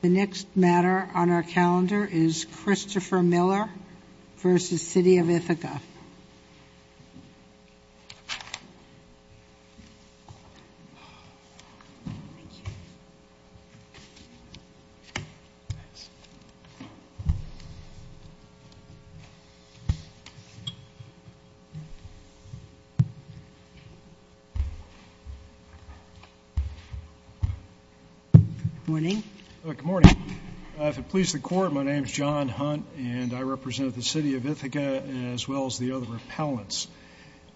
The next matter on our calendar is Christopher Miller v. City of Ithaca. Thank you. Good morning. If it pleases the Court, my name is John Hunt, and I represent the City of Ithaca as well as the other appellants.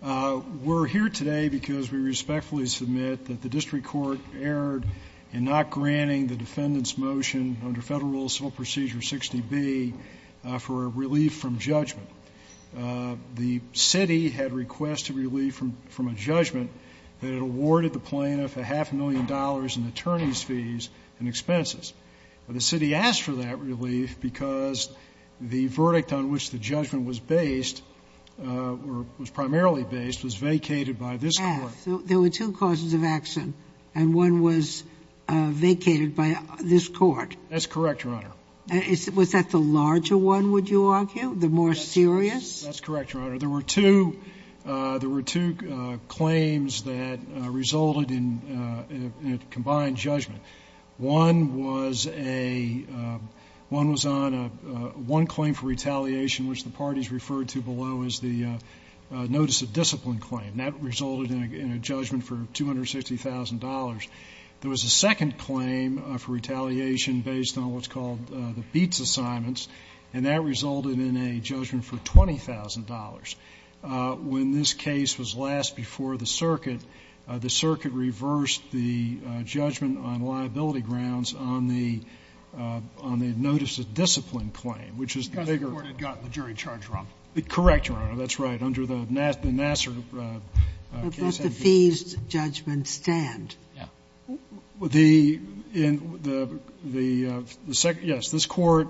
We're here today because we respectfully submit that the district court erred in not granting the defendant's motion under Federal Rule of Civil Procedure 60B for a relief from judgment. The city had requested relief from a judgment that it awarded the plaintiff a half a million dollars in attorney's fees and expenses. The city asked for that relief because the verdict on which the judgment was based or was primarily based was vacated by this court. There were two causes of action, and one was vacated by this court. That's correct, Your Honor. Was that the larger one, would you argue, the more serious? That's correct, Your Honor. There were two claims that resulted in a combined judgment. One was on one claim for retaliation, which the parties referred to below as the notice of discipline claim, and that resulted in a judgment for $260,000. There was a second claim for retaliation based on what's called the BEATS assignments, and that resulted in a judgment for $20,000. When this case was last before the circuit, the circuit reversed the judgment on liability grounds on the notice of discipline claim, which is the bigger one. Because the court had gotten the jury charge wrong. Correct, Your Honor. That's right. Under the Nassar case. But does the fees judgment stand? Yeah. The second, yes. This Court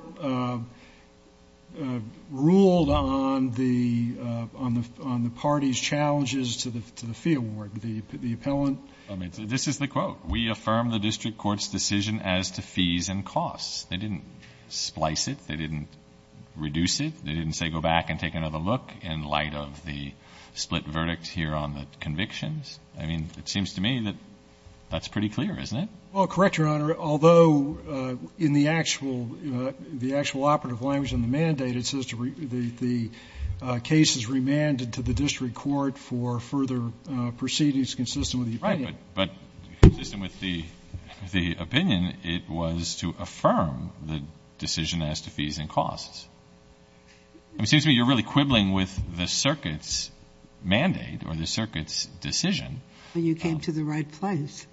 ruled on the parties' challenges to the fee award. The appellant. This is the quote. We affirm the district court's decision as to fees and costs. They didn't splice it. They didn't reduce it. They didn't say go back and take another look in light of the split verdict here on the convictions. I mean, it seems to me that that's pretty clear, isn't it? Well, correct, Your Honor. Although in the actual operative language in the mandate, it says the case is remanded to the district court for further proceedings consistent with the opinion. Right. But consistent with the opinion, it was to affirm the decision as to fees and costs. It seems to me you're really quibbling with the circuit's mandate or the circuit's decision. You came to the right place.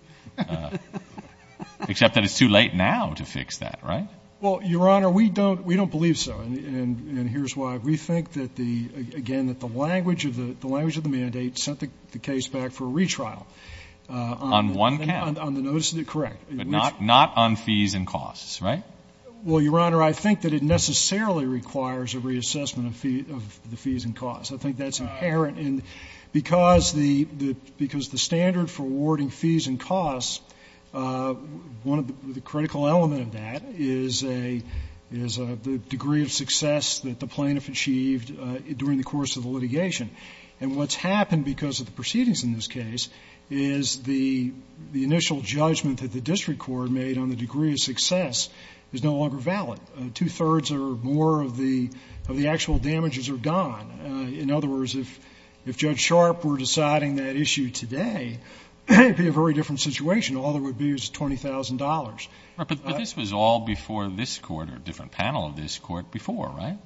Except that it's too late now to fix that, right? Well, Your Honor, we don't believe so. And here's why. We think, again, that the language of the mandate sent the case back for a retrial. On one count. On the notice of the correct. But not on fees and costs, right? Well, Your Honor, I think that it necessarily requires a reassessment of the fees and costs. I think that's inherent. And because the standard for awarding fees and costs, the critical element of that is the degree of success that the plaintiff achieved during the course of the litigation. And what's happened because of the proceedings in this case is the initial judgment that the district court made on the degree of success is no longer valid. Two-thirds or more of the actual damages are gone. In other words, if Judge Sharp were deciding that issue today, it would be a very different situation. All there would be is $20,000. But this was all before this court or a different panel of this court before, right?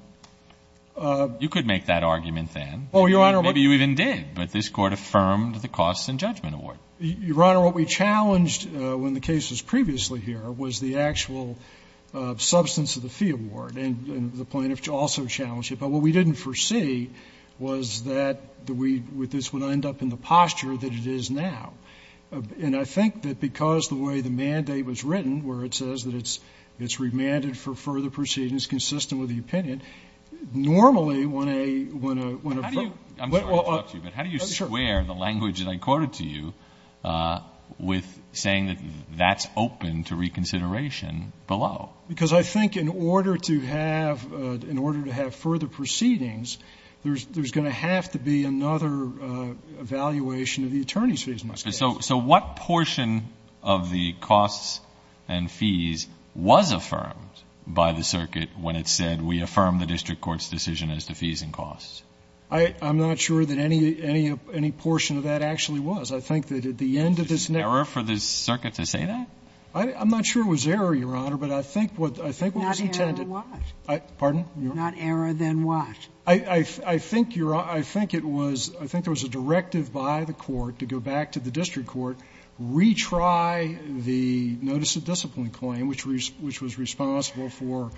You could make that argument then. Oh, Your Honor. Maybe you even did. But this court affirmed the costs and judgment award. Your Honor, what we challenged when the case was previously here was the actual substance of the fee award. And the plaintiff also challenged it. What we didn't foresee was that this would end up in the posture that it is now. And I think that because the way the mandate was written, where it says that it's remanded for further proceedings consistent with the opinion, normally when a ---- I'm sorry to interrupt you, but how do you square the language that I quoted to you with saying that that's open to reconsideration below? Because I think in order to have further proceedings, there's going to have to be another evaluation of the attorney's fees. So what portion of the costs and fees was affirmed by the circuit when it said, we affirm the district court's decision as to fees and costs? I'm not sure that any portion of that actually was. I think that at the end of this ---- Is it an error for this circuit to say that? I'm not sure it was error, Your Honor. But I think what was intended ---- Not error, then what? Pardon? Not error, then what? I think, Your Honor, I think it was ---- I think there was a directive by the court to go back to the district court, retry the notice of discipline claim, which was responsible for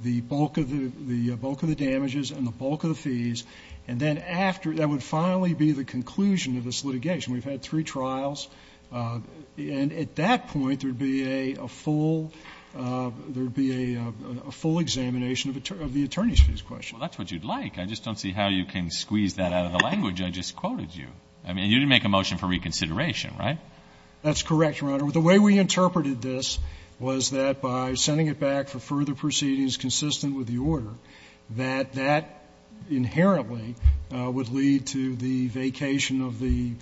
the bulk of the damages and the bulk of the fees. And then after, that would finally be the conclusion of this litigation. We've had three trials. And at that point, there would be a full ---- there would be a full examination of the attorney's fees question. Well, that's what you'd like. I just don't see how you can squeeze that out of the language I just quoted you. I mean, you didn't make a motion for reconsideration, right? That's correct, Your Honor. The way we interpreted this was that by sending it back for further proceedings consistent with the order, that that inherently would lead to the vacation of the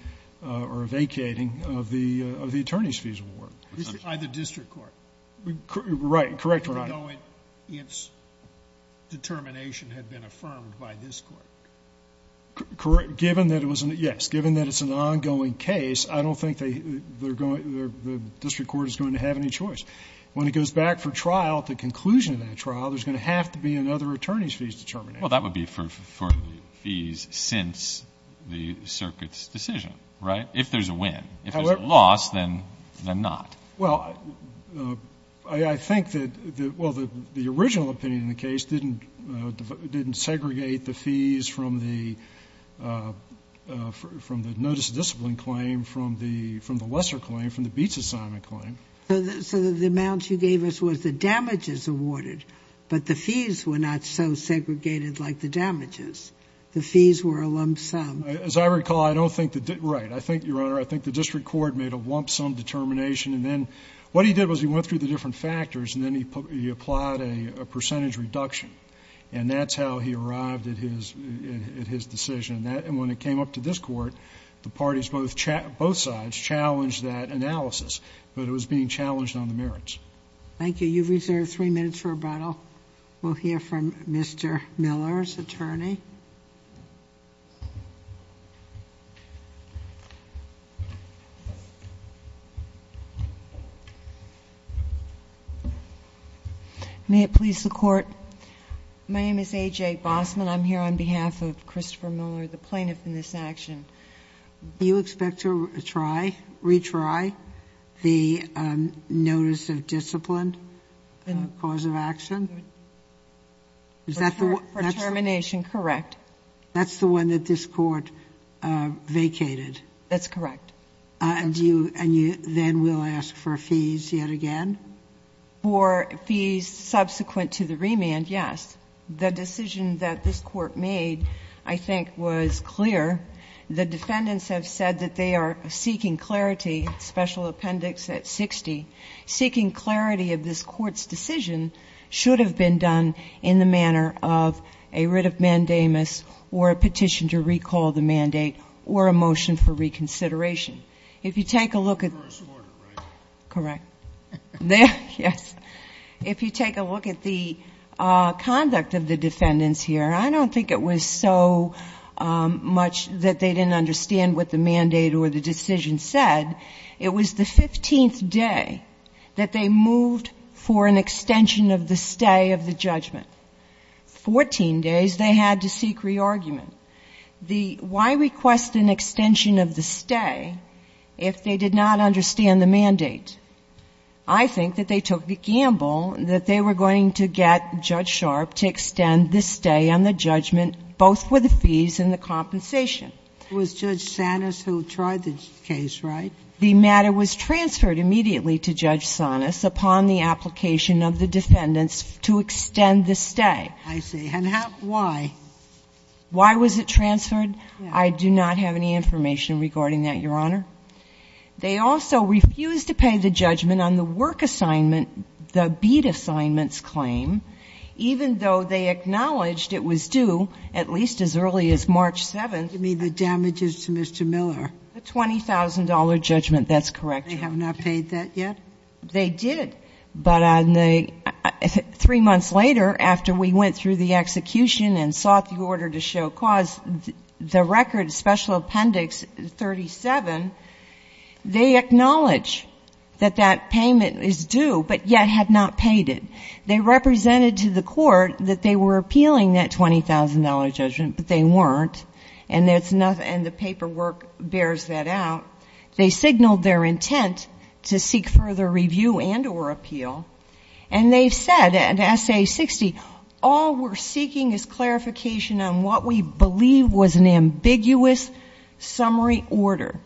---- or vacating of the attorney's fees award. By the district court. Right. Correct, Your Honor. Even though its determination had been affirmed by this court. Correct. Given that it was an ---- yes, given that it's an ongoing case, I don't think they're going to ---- the district court is going to have any choice. When it goes back for trial, the conclusion of that trial, there's going to have to be another attorney's fees determination. Well, that would be for fees since the circuit's decision, right? If there's a win. However ---- If there's a loss, then not. Well, I think that the original opinion in the case didn't segregate the fees from the notice of discipline claim, from the lesser claim, from the beats assignment claim. So the amount you gave us was the damages awarded, but the fees were not so segregated like the damages. The fees were a lump sum. As I recall, I don't think the ---- right, I think, Your Honor, I think the district court made a lump sum determination and then what he did was he went through the different factors and then he applied a percentage reduction, and that's how he arrived at his decision. And when it came up to this court, the parties, both sides, challenged that analysis. But it was being challenged on the merits. Thank you. You've reserved three minutes for rebuttal. We'll hear from Mr. Miller's attorney. May it please the Court. My name is A.J. Bossman. I'm here on behalf of Christopher Miller, the plaintiff in this action. Do you expect to try, retry the notice of discipline cause of action? For termination, correct. That's the one that this court vacated. That's correct. And you then will ask for fees yet again? For fees subsequent to the remand, yes. The decision that this court made, I think, was clear. The defendants have said that they are seeking clarity, special appendix at 60. Seeking clarity of this court's decision should have been done in the manner of a writ of mandamus or a petition to recall the mandate or a motion for reconsideration. I don't think it was so much that they didn't understand what the mandate or the decision said. It was the 15th day that they moved for an extension of the stay of the judgment. Fourteen days they had to seek re-argument. Why request an extension of the stay if they did not understand the mandate? I think that they took the gamble that they were going to get Judge Sharp to extend the stay on the judgment, both for the fees and the compensation. It was Judge Sanis who tried the case, right? The matter was transferred immediately to Judge Sanis upon the application of the defendants to extend the stay. I see. And why? Why was it transferred? I do not have any information regarding that, Your Honor. They also refused to pay the judgment on the work assignment, the bead assignments claim, even though they acknowledged it was due at least as early as March 7th. You mean the damages to Mr. Miller? The $20,000 judgment, that's correct, Your Honor. They have not paid that yet? They did. But three months later, after we went through the execution and sought the order to show cause, the record, special appendix 37, they acknowledge that that payment is due, but yet had not paid it. They represented to the court that they were appealing that $20,000 judgment, but they weren't, and the paperwork bears that out. They signaled their intent to seek further review and or appeal. And they said, in S.A. 60, all we're seeking is clarification on what we believe was an ambiguous summary order.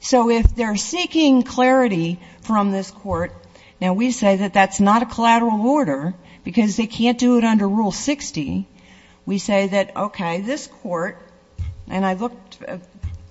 So if they're seeking clarity from this court, now we say that that's not a collateral order, because they can't do it under Rule 60. We say that, okay, this court, and I looked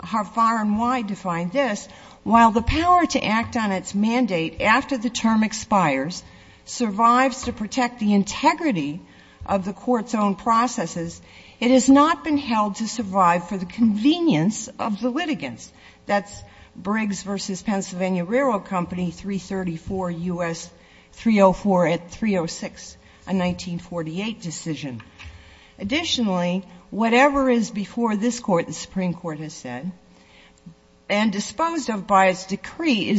far and wide to find this, while the power to act on its mandate after the term expires survives to protect the integrity of the court's own processes, it has not been held to survive for the convenience of the litigants. That's Briggs v. Pennsylvania Railroad Company, 334 U.S. 304 at 306, a 1948 decision. Additionally, whatever is before this Court, the Supreme Court has said, and disposed of by its decree,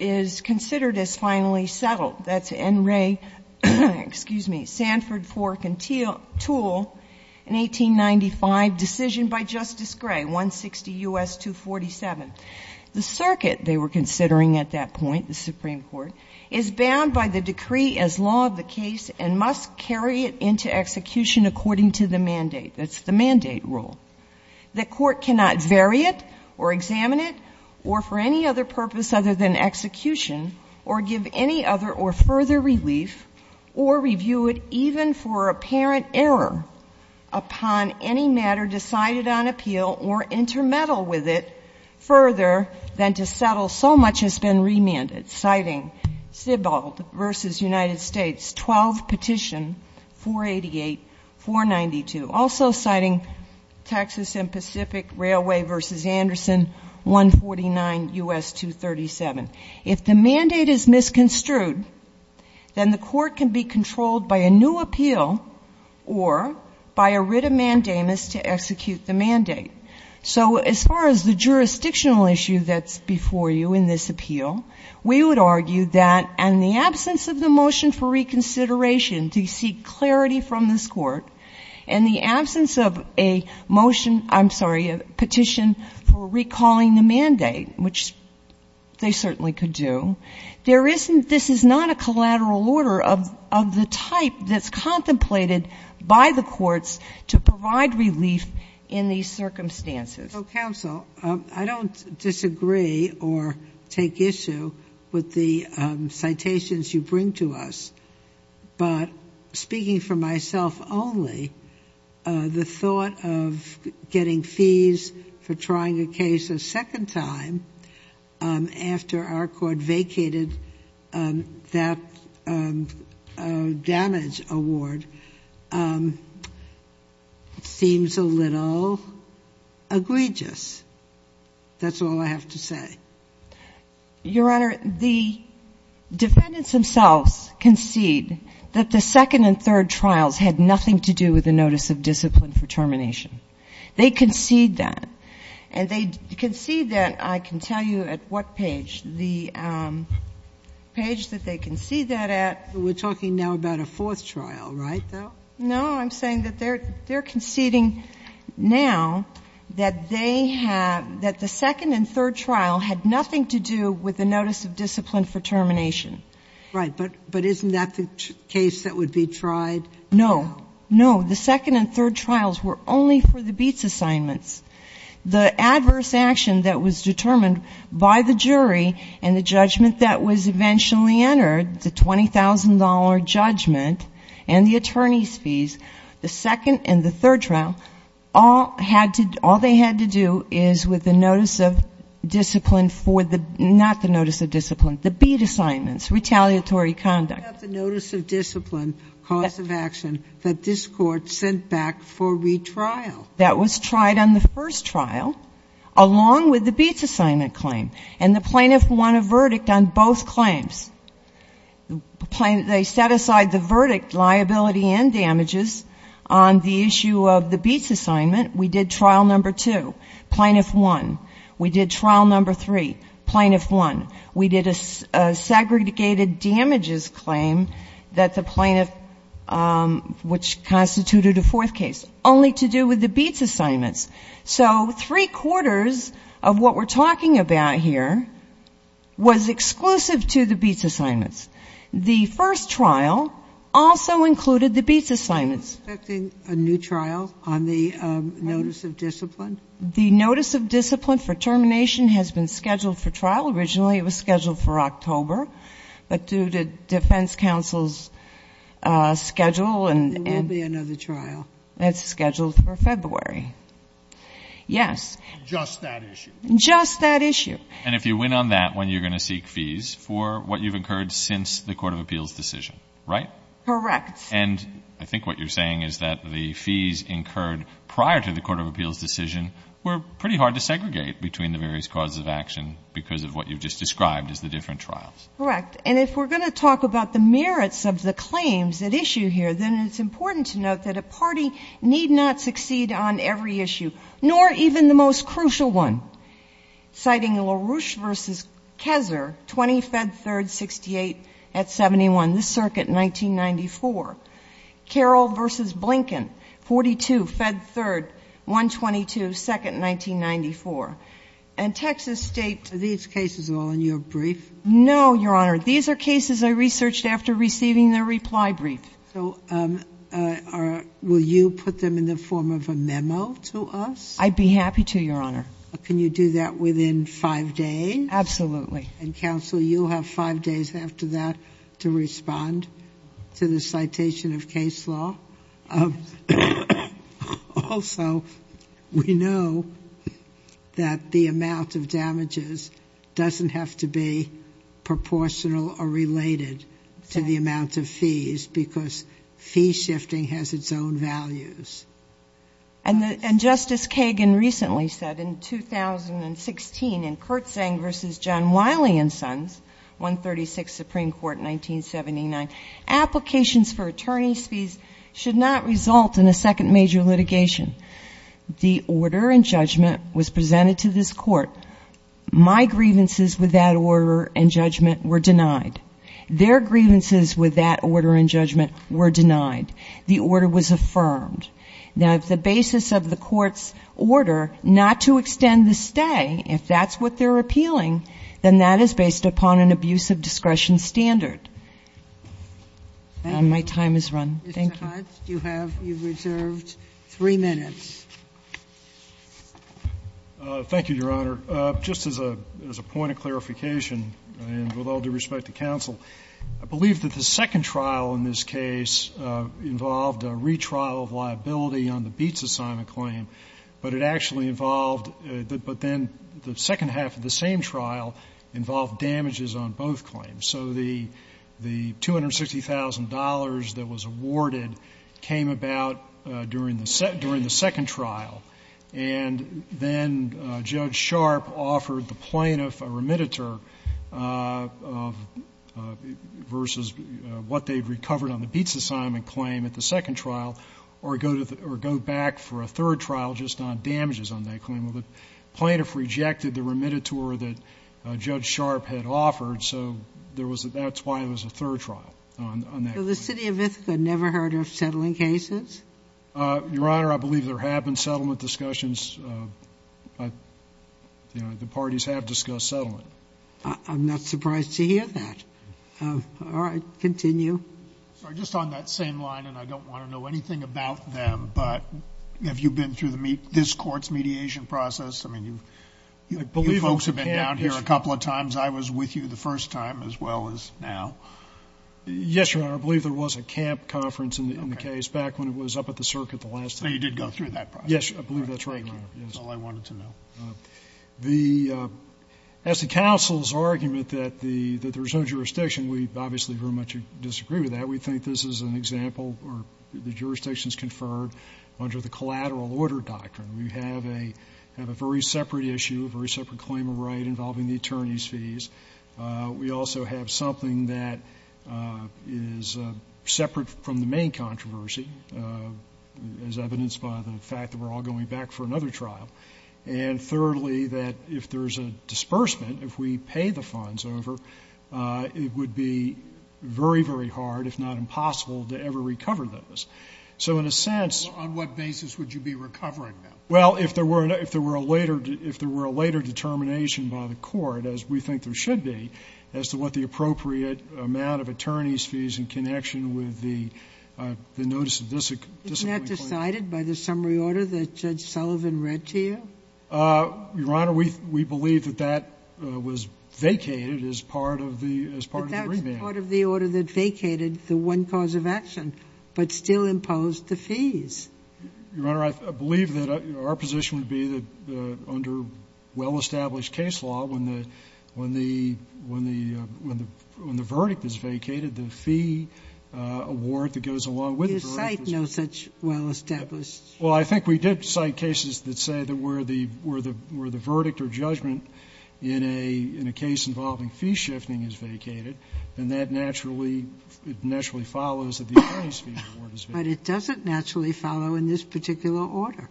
is considered as finally settled. That's N. Ray, excuse me, Sanford, Fork, and Toole, an 1895 decision by Justice Gray, 160 U.S. 247. The circuit, they were considering at that point, the Supreme Court, is bound by the decree as law of the case and must carry it into execution according to the mandate. That's the mandate rule. The Court cannot vary it or examine it or for any other purpose other than execution or give any other or further relief or review it even for apparent error upon any matter decided on appeal or intermeddle with it further than to settle so much has been remanded, citing Stibald v. United States, 12 Petition 488-492. Also citing Texas and Pacific Railway v. Anderson, 149 U.S. 237. If the mandate is misconstrued, then the Court can be controlled by a new appeal or by a writ of mandamus to execute the mandate. So as far as the jurisdictional issue that's before you in this appeal, we would argue that in the absence of the motion for reconsideration to seek clarity from this Court, in the absence of a motion, I'm sorry, a petition for recalling the mandate, which they certainly could do, there isn't, this is not a collateral order of the type that's contemplated by the courts to provide relief in these circumstances. Ginsburg. So, counsel, I don't disagree or take issue with the citations you bring to us, but speaking for myself only, the thought of getting fees for trying a case a second time after our Court vacated that damage award seems a little egregious. That's all I have to say. Your Honor, the defendants themselves concede that the second and third trials had nothing to do with the notice of discipline for termination. They concede that. And they concede that, I can tell you at what page, the page that they concede that at. We're talking now about a fourth trial, right, though? No, I'm saying that they're conceding now that they have, that the second and third trial had nothing to do with the notice of discipline for termination. Right. But isn't that the case that would be tried? No. No. The second and third trials were only for the Beetz assignments. The adverse action that was determined by the jury and the judgment that was eventually entered, the $20,000 judgment and the attorney's fees, the second and the third trial, all had to, all they had to do is with the notice of discipline for the, not the notice of discipline, the Beetz assignments, retaliatory conduct. But not the notice of discipline, cause of action, that this Court sent back for retrial. That was tried on the first trial, along with the Beetz assignment claim. And the plaintiff won a verdict on both claims. They set aside the verdict, liability and damages, on the issue of the Beetz assignment. We did trial number two. Plaintiff won. We did trial number three. Plaintiff won. We did a segregated damages claim that the plaintiff, which constituted a fourth case, only to do with the Beetz assignments. So three quarters of what we're talking about here was exclusive to the Beetz assignments. The first trial also included the Beetz assignments. Are you expecting a new trial on the notice of discipline? The notice of discipline for termination has been scheduled for trial. Originally it was scheduled for October. But due to defense counsel's schedule and. There will be another trial. That's scheduled for February. Yes. Just that issue. Just that issue. And if you win on that one, you're going to seek fees for what you've incurred since the Court of Appeals decision, right? Correct. And I think what you're saying is that the fees incurred prior to the Court of Appeals decision were pretty hard to segregate between the various causes of action because of what you've just described as the different trials. Correct. And if we're going to talk about the merits of the claims at issue here, then it's important to note that a party need not succeed on every issue, nor even the most crucial one. Citing LaRouche v. Kessler, 20 Fed Third, 68 at 71. This circuit, 1994. Carroll v. Blinken, 42 Fed Third, 122, second, 1994. And Texas State. Are these cases all in your brief? No, Your Honor. These are cases I researched after receiving the reply brief. So will you put them in the form of a memo to us? I'd be happy to, Your Honor. Can you do that within five days? Absolutely. And, Counsel, you'll have five days after that to respond to the citation of Kessler. Also, we know that the amount of damages doesn't have to be proportional or related to the amount of fees, because fee shifting has its own values. And Justice Kagan recently said in 2016 in Kurtzang v. John Wiley and Sons, 136, Supreme Court, 1979, applications for attorney's fees should not result in a second major litigation. The order and judgment was presented to this court. My grievances with that order and judgment were denied. Their grievances with that order and judgment were denied. The order was affirmed. Now, if the basis of the court's order not to extend the stay, if that's what they're appealing, then that is based upon an abuse of discretion standard. My time is run. Thank you. Mr. Hunt, you have, you've reserved three minutes. Thank you, Your Honor. Just as a point of clarification, and with all due respect to counsel, I believe that the second trial in this case involved a retrial of liability on the Beetz assignment claim, but it actually involved, but then the second half of the same trial involved damages on both claims. So the $260,000 that was awarded came about during the second trial and then Judge Sharp offered the plaintiff a remediator versus what they'd recovered on the Beetz assignment claim at the second trial or go back for a third trial just on damages on that claim. Well, the plaintiff rejected the remediator that Judge Sharp had offered, so that's why it was a third trial on that claim. So the City of Ithaca never heard of settling cases? Your Honor, I believe there have been settlement discussions. The parties have discussed settlement. I'm not surprised to hear that. All right, continue. Sorry, just on that same line, and I don't want to know anything about them, but have you been through this court's mediation process? I mean, you folks have been down here a couple of times. I was with you the first time as well as now. Yes, Your Honor, I believe there was a camp conference in the case back when it was up at the circuit the last time. So you did go through that process? Yes, I believe that's right, Your Honor. Thank you. That's all I wanted to know. As to counsel's argument that there's no jurisdiction, we obviously very much disagree with that. We think this is an example where the jurisdiction is conferred under the collateral order doctrine. We have a very separate issue, a very separate claim of right involving the attorney's fees. We also have something that is separate from the main controversy, as evidenced by the fact that we're all going back for another trial. And thirdly, that if there's a disbursement, if we pay the funds over, it would be very, very hard, if not impossible, to ever recover those. So in a sense — On what basis would you be recovering them? Well, if there were a later determination by the court, as we think there should be, as to what the appropriate amount of attorney's fees in connection with the notice of disciplinary claim. Isn't that decided by the summary order that Judge Sullivan read to you? Your Honor, we believe that that was vacated as part of the remand. But that was part of the order that vacated the one cause of action but still imposed the fees. Your Honor, I believe that our position would be that under well-established case law, when the verdict is vacated, the fee award that goes along with the verdict is vacated. You cite no such well-established case. Well, I think we did cite cases that say that where the verdict or judgment in a case involving fee shifting is vacated, then that naturally follows that the attorney's fee award is vacated. But it doesn't naturally follow in this particular order.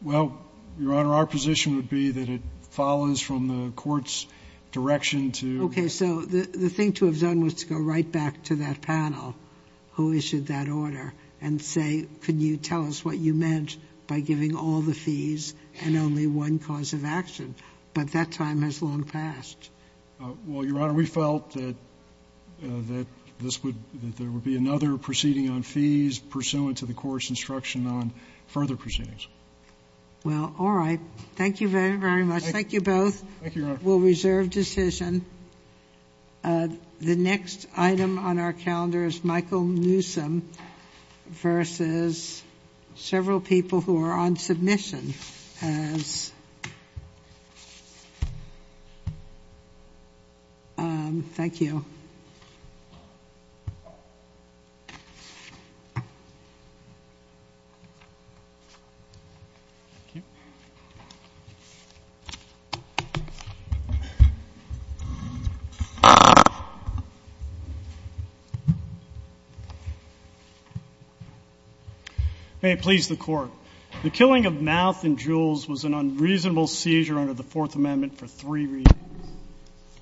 Well, Your Honor, our position would be that it follows from the court's direction to the court's direction. Okay. So the thing to have done was to go right back to that panel who issued that order and say, Can you tell us what you meant by giving all the fees and only one cause of action? But that time has long passed. Well, Your Honor, we felt that this would be another proceeding on fees pursuant to the court's instruction on further proceedings. Well, all right. Thank you very, very much. Thank you both. Thank you, Your Honor. We'll reserve decision. The next item on our calendar is Michael Newsom versus several people who are on submission. Thank you. May it please the Court. The killing of Mouth and Jules was an unreasonable seizure under the Fourth Amendment for three reasons.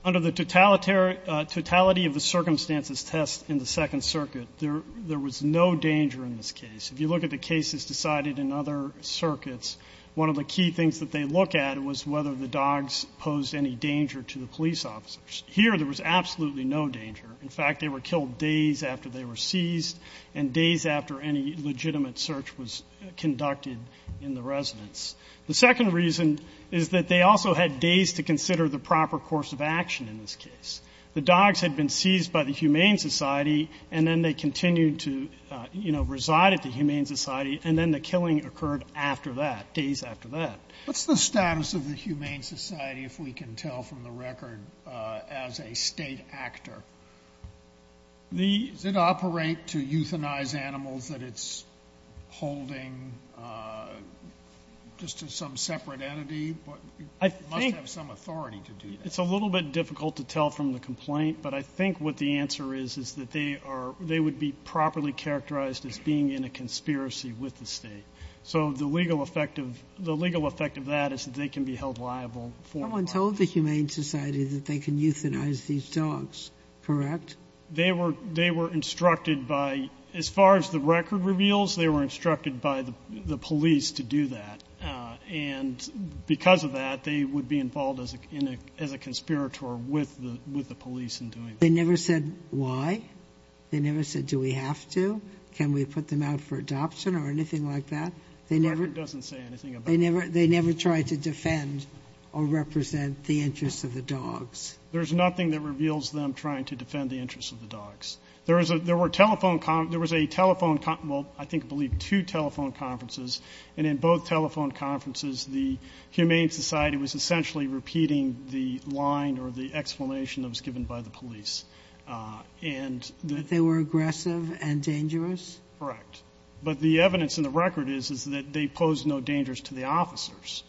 Under the totality of the circumstances test in the Second Circuit, there was no danger in this case. If you look at the cases decided in other circuits, one of the key things that they look at was whether the dogs posed any danger to the police officers. Here, there was absolutely no danger. In fact, they were killed days after they were seized and days after any legitimate search was conducted in the residence. The second reason is that they also had days to consider the proper course of action in this case. The dogs had been seized by the Humane Society and then they continued to, you know, reside at the Humane Society and then the killing occurred after that, days after that. What's the status of the Humane Society, if we can tell from the record, as a state actor? Does it operate to euthanize animals that it's holding just to some separate entity? It must have some authority to do that. It's a little bit difficult to tell from the complaint, but I think what the answer is is that they would be properly characterized as being in a conspiracy with the state. So the legal effect of that is that they can be held liable. Someone told the Humane Society that they can euthanize these dogs, correct? They were instructed by, as far as the record reveals, they were instructed by the police to do that and because of that, they would be involved as a conspirator with the police in doing that. They never said why? They never said, do we have to? Can we put them out for adoption or anything like that? The record doesn't say anything about that. They never tried to defend or represent the interests of the dogs. There's nothing that reveals them trying to defend the interests of the dogs. There was a telephone, well, I believe two telephone conferences, and in both telephone conferences, the Humane Society was essentially repeating the line or the explanation that was given by the police. They were aggressive and dangerous? Correct. But the evidence in the record is that they pose no dangers to the officers.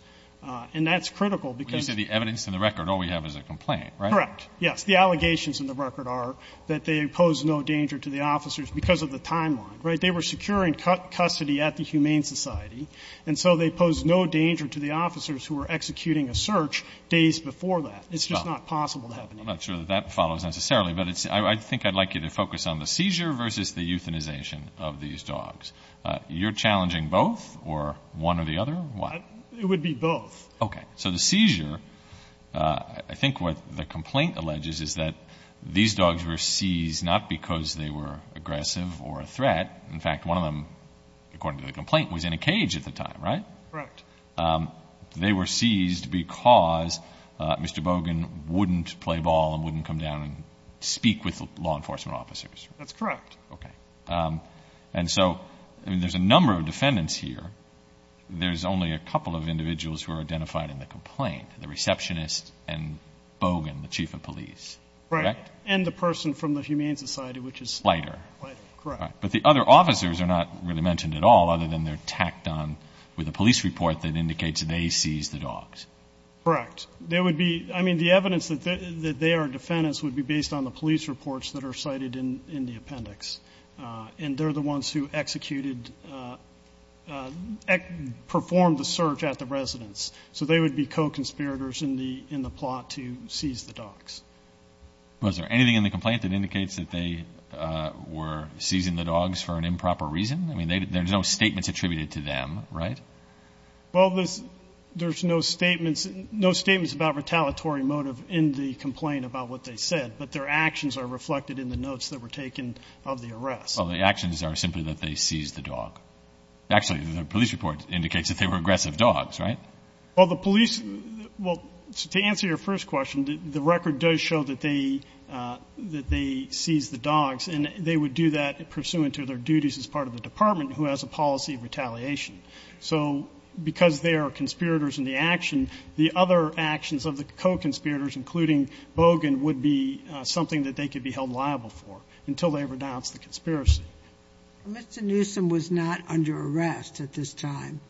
And that's critical because... When you say the evidence in the record, all we have is a complaint, right? Correct. Yes. The allegations in the record are that they pose no danger to the officers because of the timeline, right? They were securing custody at the Humane Society, and so they pose no danger to the officers who were executing a search days before that. It's just not possible to happen. I'm not sure that that follows necessarily, but I think I'd like you to focus on the You're challenging both or one or the other? It would be both. Okay. So the seizure, I think what the complaint alleges is that these dogs were seized not because they were aggressive or a threat. In fact, one of them, according to the complaint, was in a cage at the time, right? Correct. They were seized because Mr. Bogan wouldn't play ball and wouldn't come down and speak with law enforcement officers. That's correct. Okay. And so there's a number of defendants here. There's only a couple of individuals who are identified in the complaint, the receptionist and Bogan, the chief of police, correct? Right. And the person from the Humane Society, which is lighter. Correct. But the other officers are not really mentioned at all, other than they're tacked on with a police report that indicates they seized the dogs. Correct. There would be, I mean, the evidence that they are defendants would be based on the police reports that are cited in the appendix. And they're the ones who executed, performed the search at the residence. So they would be co-conspirators in the plot to seize the dogs. Was there anything in the complaint that indicates that they were seizing the dogs for an improper reason? I mean, there's no statements attributed to them, right? Well, there's no statements about retaliatory motive in the complaint about what they said, but their actions are reflected in the notes that were taken of the arrest. Well, the actions are simply that they seized the dog. Actually, the police report indicates that they were aggressive dogs, right? Well, the police, well, to answer your first question, the record does show that they seized the dogs, and they would do that pursuant to their duties as part of the department who has a policy of retaliation. So because they are conspirators in the action, the other actions of the co-conspirators, including Bogan, would be something that they could be held liable for until they renounce the conspiracy. Mr. Newsom was not under arrest at this time,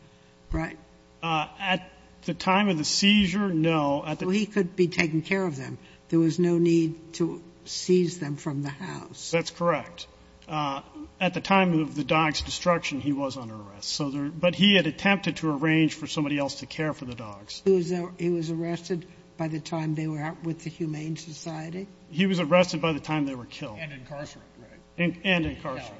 right? At the time of the seizure, no. So he could be taking care of them. There was no need to seize them from the house. That's correct. At the time of the dogs' destruction, he was under arrest. But he had attempted to arrange for somebody else to care for the dogs. He was arrested by the time they were out with the Humane Society? He was arrested by the time they were killed. And incarcerated, right? And incarcerated,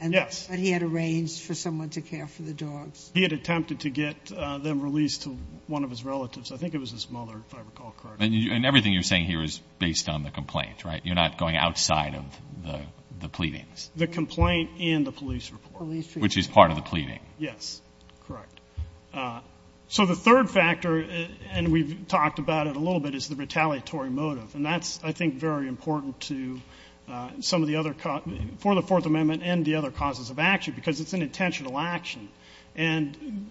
yes. But he had arranged for someone to care for the dogs. He had attempted to get them released to one of his relatives. I think it was his mother, if I recall correctly. And everything you're saying here is based on the complaint, right? You're not going outside of the pleadings. The complaint and the police report. Police report. Which is part of the pleading. Yes, correct. So the third factor, and we've talked about it a little bit, is the retaliatory motive. And that's, I think, very important for the Fourth Amendment and the other causes of action. Because it's an intentional action. And,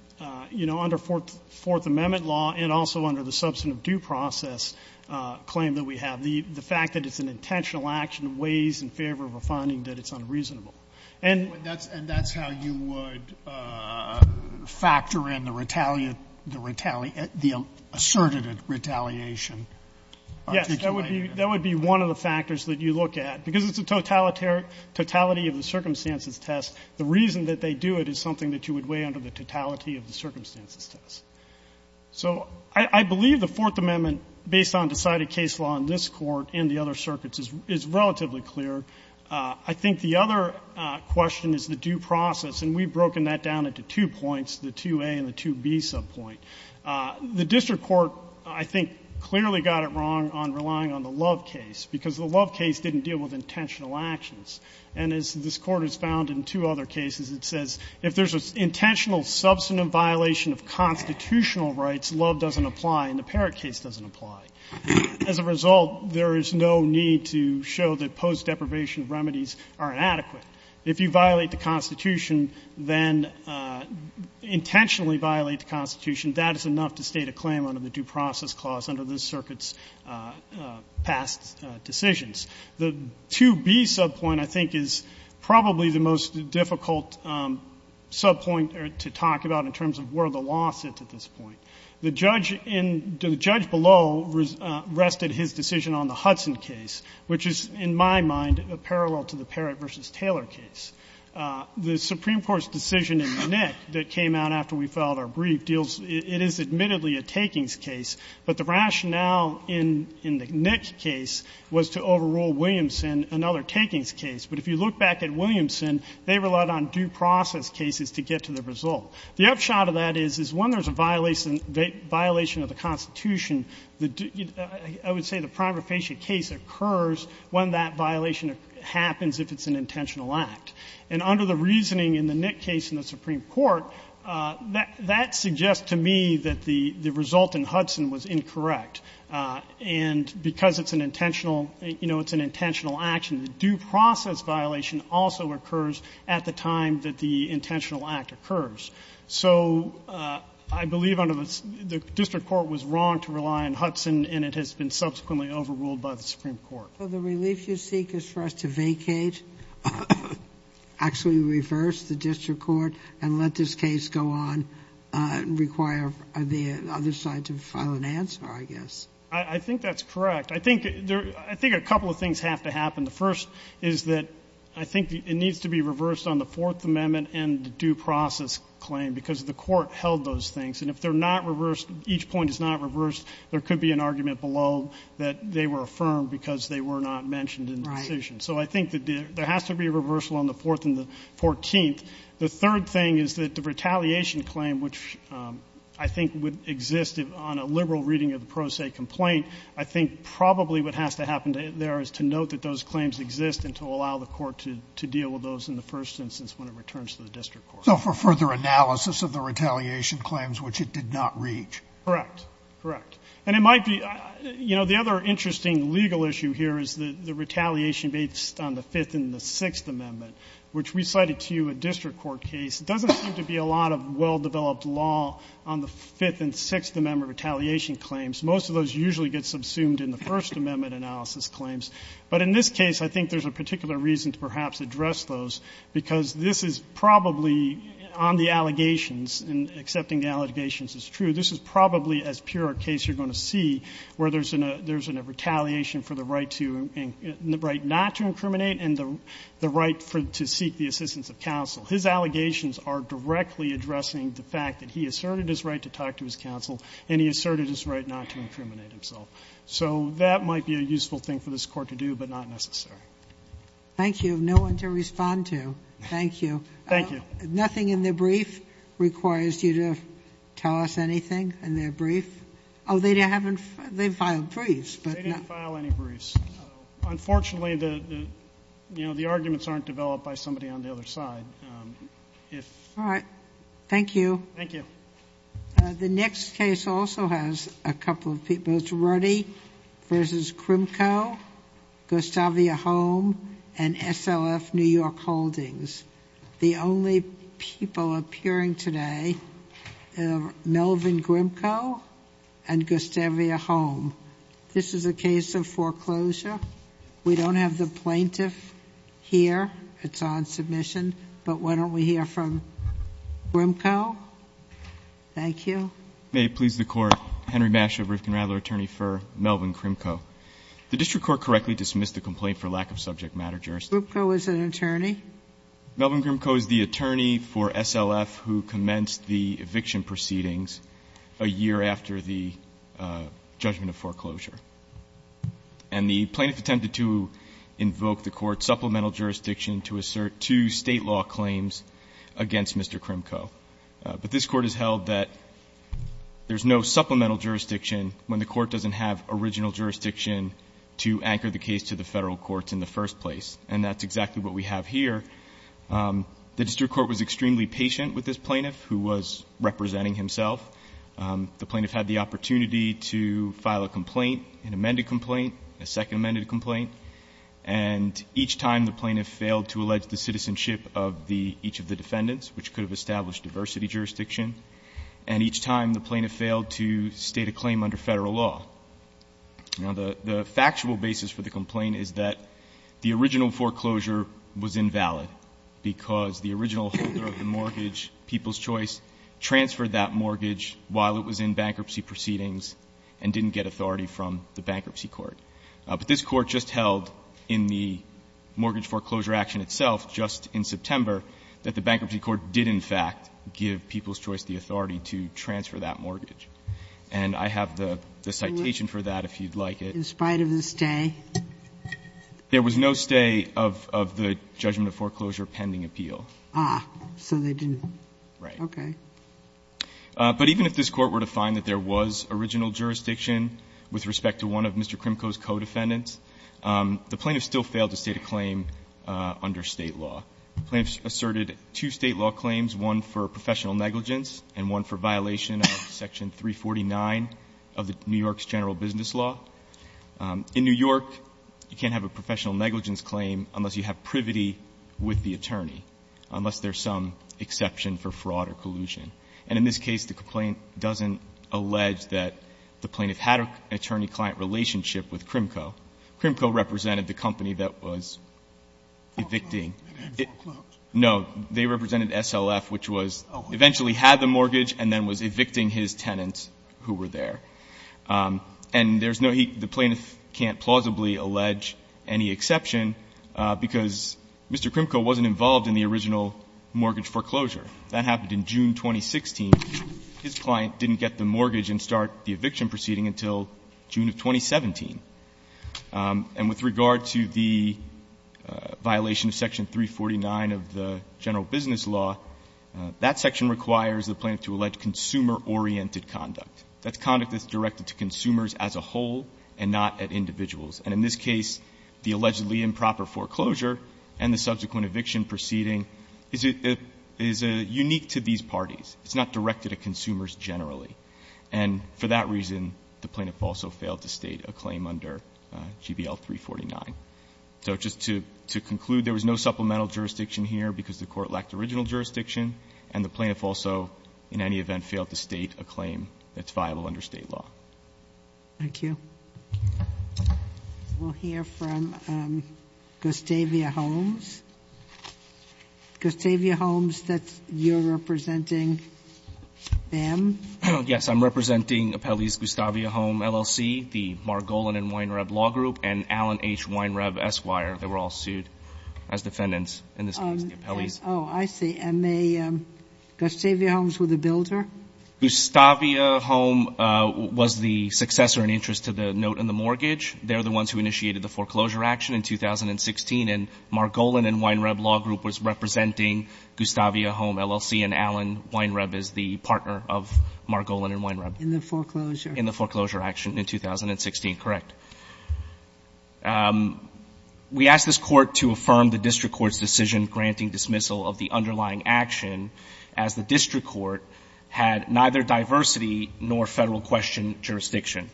you know, under Fourth Amendment law and also under the substantive due process claim that we have, the fact that it's an intentional action weighs in favor of a finding that it's unreasonable. And that's how you would factor in the asserted retaliation. Yes, that would be one of the factors that you look at. Because it's a totality of the circumstances test, the reason that they do it is something that you would weigh under the totality of the circumstances test. So I believe the Fourth Amendment, based on decided case law in this court and the other circuits, is relatively clear. I think the other question is the due process. And we've broken that down into two points, the 2A and the 2B subpoint. The district court, I think, clearly got it wrong on relying on the Love case, because the Love case didn't deal with intentional actions. And as this Court has found in two other cases, it says, if there's an intentional substantive violation of constitutional rights, Love doesn't apply and the Parrott case doesn't apply. As a result, there is no need to show that post-deprivation remedies are inadequate. If you violate the Constitution, then intentionally violate the Constitution, that is enough to state a claim under the due process clause under this circuit's past decisions. The 2B subpoint, I think, is probably the most difficult subpoint to talk about in terms of where the law sits at this point. The judge below rested his decision on the Hudson case, which is, in my mind, a parallel to the Parrott v. Taylor case. The Supreme Court's decision in the NIC that came out after we filed our brief deals — it is admittedly a takings case, but the rationale in the NIC case was to overrule Williamson, another takings case. But if you look back at Williamson, they relied on due process cases to get to the result. The upshot of that is when there is a violation of the Constitution, I would say the prima facie case occurs when that violation happens if it's an intentional act. And under the reasoning in the NIC case in the Supreme Court, that suggests to me that the result in Hudson was incorrect. And because it's an intentional action, the due process violation also occurs at the time that the intentional act occurs. So I believe under the — the district court was wrong to rely on Hudson, and it has been subsequently overruled by the Supreme Court. Sotomayor, so the relief you seek is for us to vacate, actually reverse the district court, and let this case go on and require the other side to file an answer, I guess? I think that's correct. I think there — I think a couple of things have to happen. The first is that I think it needs to be reversed on the Fourth Amendment and the due process claim, because the court held those things. And if they're not reversed, each point is not reversed, there could be an argument below that they were affirmed because they were not mentioned in the decision. So I think that there has to be a reversal on the Fourth and the Fourteenth. The third thing is that the retaliation claim, which I think would exist on a liberal reading of the pro se complaint, I think probably what has to happen there is to note that those claims exist and to allow the court to deal with those in the first instance when it returns to the district court. So for further analysis of the retaliation claims, which it did not reach. Correct. Correct. And it might be — you know, the other interesting legal issue here is the retaliation based on the Fifth and the Sixth Amendment, which we cited to you a district court case. It doesn't seem to be a lot of well-developed law on the Fifth and Sixth Amendment retaliation claims. Most of those usually get subsumed in the First Amendment analysis claims. But in this case, I think there's a particular reason to perhaps address those, because this is probably, on the allegations, and accepting the allegations is true, this is probably as pure a case you're going to see where there's a — there's a retaliation for the right to — the right not to incriminate and the right for — to seek the assistance of counsel. His allegations are directly addressing the fact that he asserted his right to talk to his counsel, and he asserted his right not to incriminate himself. So that might be a useful thing for this Court to do, but not necessary. Thank you. No one to respond to. Thank you. Thank you. Nothing in the brief requires you to tell us anything in their brief? Oh, they haven't — they've filed briefs, but — They didn't file any briefs. Unfortunately, the — you know, the arguments aren't developed by somebody on the other side. If — All right. Thank you. Thank you. The next case also has a couple of people. It's Ruddy v. Grimcoe, Gustavia Holm, and SLF New York Holdings. The only people appearing today are Melvin Grimcoe and Gustavia Holm. This is a case of foreclosure. We don't have the plaintiff here. It's on submission. But why don't we hear from Grimcoe? Thank you. May it please the Court. Henry Mash of Rifkin-Radler, attorney for Melvin Grimcoe. The district court correctly dismissed the complaint for lack of subject matter jurisdiction. Grimcoe is an attorney? Melvin Grimcoe is the attorney for SLF who commenced the eviction proceedings a year after the judgment of foreclosure. And the plaintiff attempted to invoke the Court's supplemental jurisdiction to assert two State law claims against Mr. Grimcoe. But this Court has held that there's no supplemental jurisdiction when the Court doesn't have original jurisdiction to anchor the case to the Federal courts in the first place. And that's exactly what we have here. The district court was extremely patient with this plaintiff, who was representing himself. The plaintiff had the opportunity to file a complaint, an amended complaint, a second amended complaint. And each time the plaintiff failed to allege the citizenship of each of the defendants, which could have established diversity jurisdiction. And each time the plaintiff failed to state a claim under Federal law. Now, the factual basis for the complaint is that the original foreclosure was invalid because the original holder of the mortgage, People's Choice, transferred that mortgage while it was in bankruptcy proceedings and didn't get authority from the Bankruptcy Court. But this Court just held in the mortgage foreclosure action itself, just in September, that the Bankruptcy Court did, in fact, give People's Choice the authority to transfer that mortgage. And I have the citation for that, if you'd like it. In spite of the stay? There was no stay of the judgment of foreclosure pending appeal. Ah. So they didn't. Right. Okay. But even if this Court were to find that there was original jurisdiction with respect to one of Mr. Krimko's co-defendants, the plaintiff still failed to state a claim under State law. The plaintiff asserted two State law claims, one for professional negligence and one for violation of section 349 of New York's general business law. In New York, you can't have a professional negligence claim unless you have privity with the attorney, unless there's some exception for fraud or collusion. And in this case, the complaint doesn't allege that the plaintiff had an attorney-client relationship with Krimko. Krimko represented the company that was evicting. Foreclosed? No. They represented SLF, which was, eventually had the mortgage and then was evicting his tenants who were there. And there's no heat. The plaintiff can't plausibly allege any exception, because Mr. Krimko wasn't involved in the original mortgage foreclosure. That happened in June 2016. His client didn't get the mortgage and start the eviction proceeding until June of 2017. And with regard to the violation of section 349 of the general business law, that section requires the plaintiff to allege consumer-oriented conduct. That's conduct that's directed to consumers as a whole and not at individuals. And in this case, the allegedly improper foreclosure and the subsequent eviction proceeding is unique to these parties. It's not directed at consumers generally. And for that reason, the plaintiff also failed to state a claim under GBL 349. So just to conclude, there was no supplemental jurisdiction here because the court lacked original jurisdiction, and the plaintiff also, in any event, failed to state a claim that's viable under state law. Thank you. We'll hear from Gustavia Holmes. Gustavia Holmes, you're representing them? Yes, I'm representing Appellees Gustavia Holmes, LLC, the Margolin and Weinreb Law Group, and Allen H. Weinreb, Esquire. They were all sued as defendants in this case, the appellees. Oh, I see. And Gustavia Holmes was the builder? Gustavia Holmes was the successor in interest to the note in the mortgage. They're the ones who initiated the foreclosure action in 2016, and Margolin and Weinreb Law Group was representing Gustavia Holmes, LLC, and Allen Weinreb is the partner of Margolin and Weinreb. In the foreclosure? In the foreclosure action in 2016, correct. We asked this court to affirm the district court's decision granting dismissal of the underlying action as the district court had neither diversity nor federal question jurisdiction.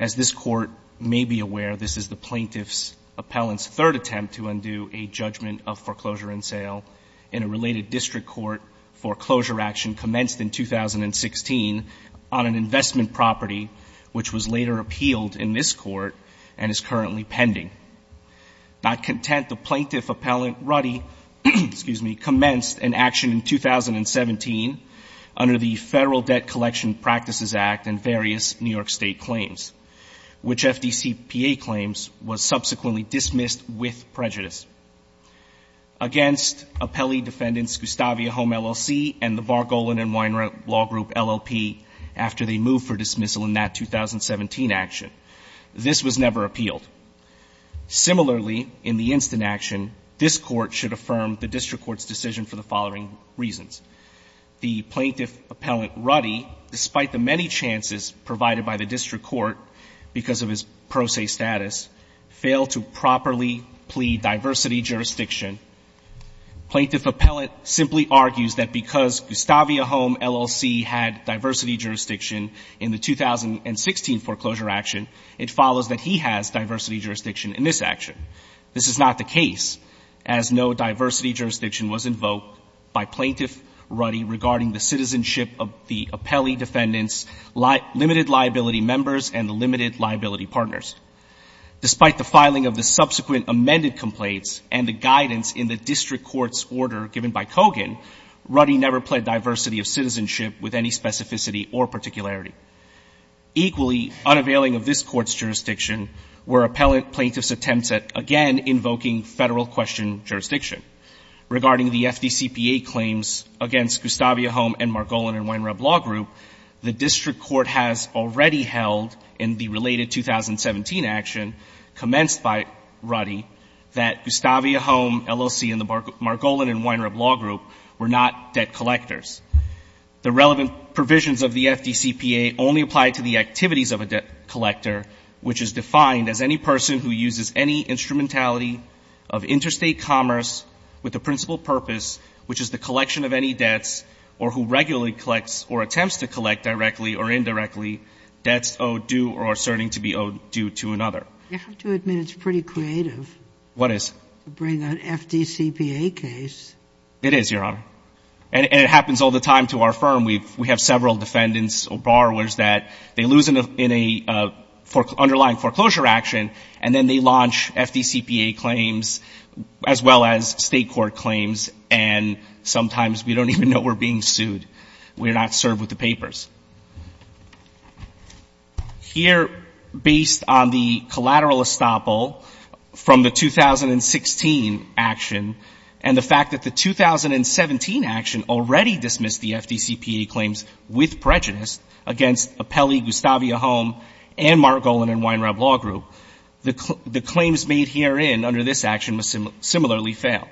As this court may be aware, this is the plaintiff's appellant's third attempt to undo a judgment of foreclosure and sale in a related district court foreclosure action commenced in 2016 on an investment property, which was later appealed in this court and is currently pending. Not content, the plaintiff appellant Ruddy, excuse me, commenced an action in 2017 under the Federal Debt Collection Practices Act and various New York State claims, which FDCPA claims was subsequently dismissed with prejudice against appellee defendants Gustavia Holmes, LLC, and the Margolin and Weinreb Law Group, LLP, after they moved for dismissal in that 2017 action. This was never appealed. Similarly, in the instant action, this court should affirm the district court's decision for the following reasons. The plaintiff appellant Ruddy, despite the many chances provided by the district court because of his pro se status, failed to properly plead diversity jurisdiction. Plaintiff appellant simply argues that because Gustavia Holmes, LLC, had diversity jurisdiction in the 2016 foreclosure action, it follows that he has diversity jurisdiction in this action. This is not the case, as no diversity jurisdiction was invoked by Plaintiff Ruddy regarding the citizenship of the appellee defendants' limited liability members and the limited liability partners. Despite the filing of the subsequent amended complaints and the guidance in the district court's order given by Kogan, Ruddy never pled diversity of citizenship with any specificity or particularity. Equally, unavailing of this court's jurisdiction were appellant plaintiffs' attempts at, again, invoking Federal question jurisdiction. Regarding the FDCPA claims against Gustavia Holmes and Margolin and Weinreb Law Group, the district court has already held in the related 2017 action commenced by Ruddy that Gustavia Holmes, LLC, and the Margolin and Weinreb Law Group were not debt collectors. The relevant provisions of the FDCPA only apply to the activities of a debt collector, which is defined as any person who uses any instrumentality of interstate commerce with the principal purpose, which is the collection of any debts, or who regularly collects or attempts to collect directly or indirectly, debts owed due or asserting to be owed due to another. You have to admit it's pretty creative. What is? To bring an FDCPA case. It is, Your Honor. And it happens all the time to our firm. We have several defendants or borrowers that they lose in an underlying foreclosure action, and then they launch FDCPA claims as well as State court claims, and sometimes we don't even know we're being sued. We're not served with the papers. Here, based on the collateral estoppel from the 2016 action, and the fact that the 2017 action already dismissed the FDCPA claims with prejudice against Apelli, Gustavia Holmes, and Margolin and Weinreb Law Group, the claims made herein under this action similarly fail.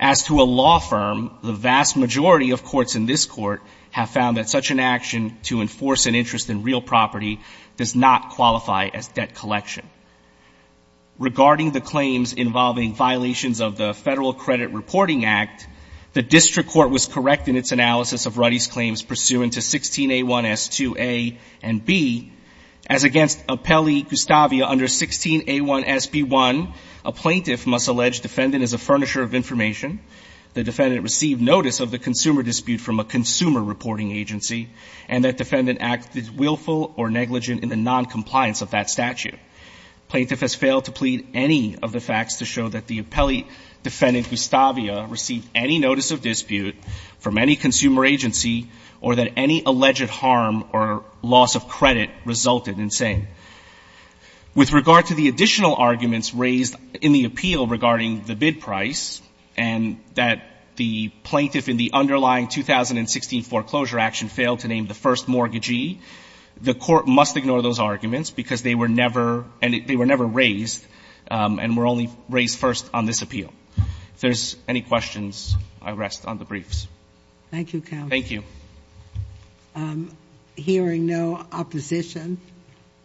As to a law firm, the vast majority of courts in this Court have found that such an action to enforce an interest in real property does not qualify as debt collection. Regarding the claims involving violations of the Federal Credit Reporting Act, the District Court was correct in its analysis of Ruddy's claims pursuant to 16A1S2A and B. As against Apelli-Gustavia under 16A1SB1, a plaintiff must allege defendant is a furnisher of information, the defendant received notice of the consumer dispute from a consumer reporting agency, and that defendant acted willful or negligent in the noncompliance of that statute. Plaintiff has failed to plead any of the facts to show that the Apelli defendant Gustavia received any notice of dispute from any consumer agency or that any alleged harm or loss of credit resulted in saying. With regard to the additional arguments raised in the appeal regarding the bid price and that the plaintiff in the underlying 2016 foreclosure action failed to name the first mortgagee, the Court must ignore those arguments because they were never raised and were only raised first on this appeal. If there's any questions, I rest on the briefs. Thank you, counsel. Thank you. Hearing no opposition,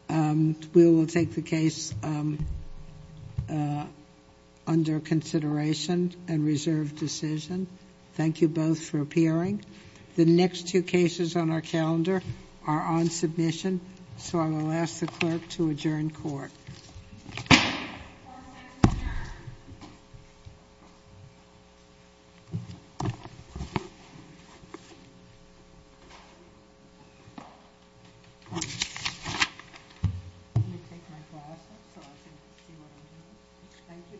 we will take the case under consideration and reserve decision. Thank you both for appearing. The next two cases on our calendar are on submission, so I will ask the clerk to adjourn court. Let me take my glasses off so I can see what I'm doing. Thank you. Thank you.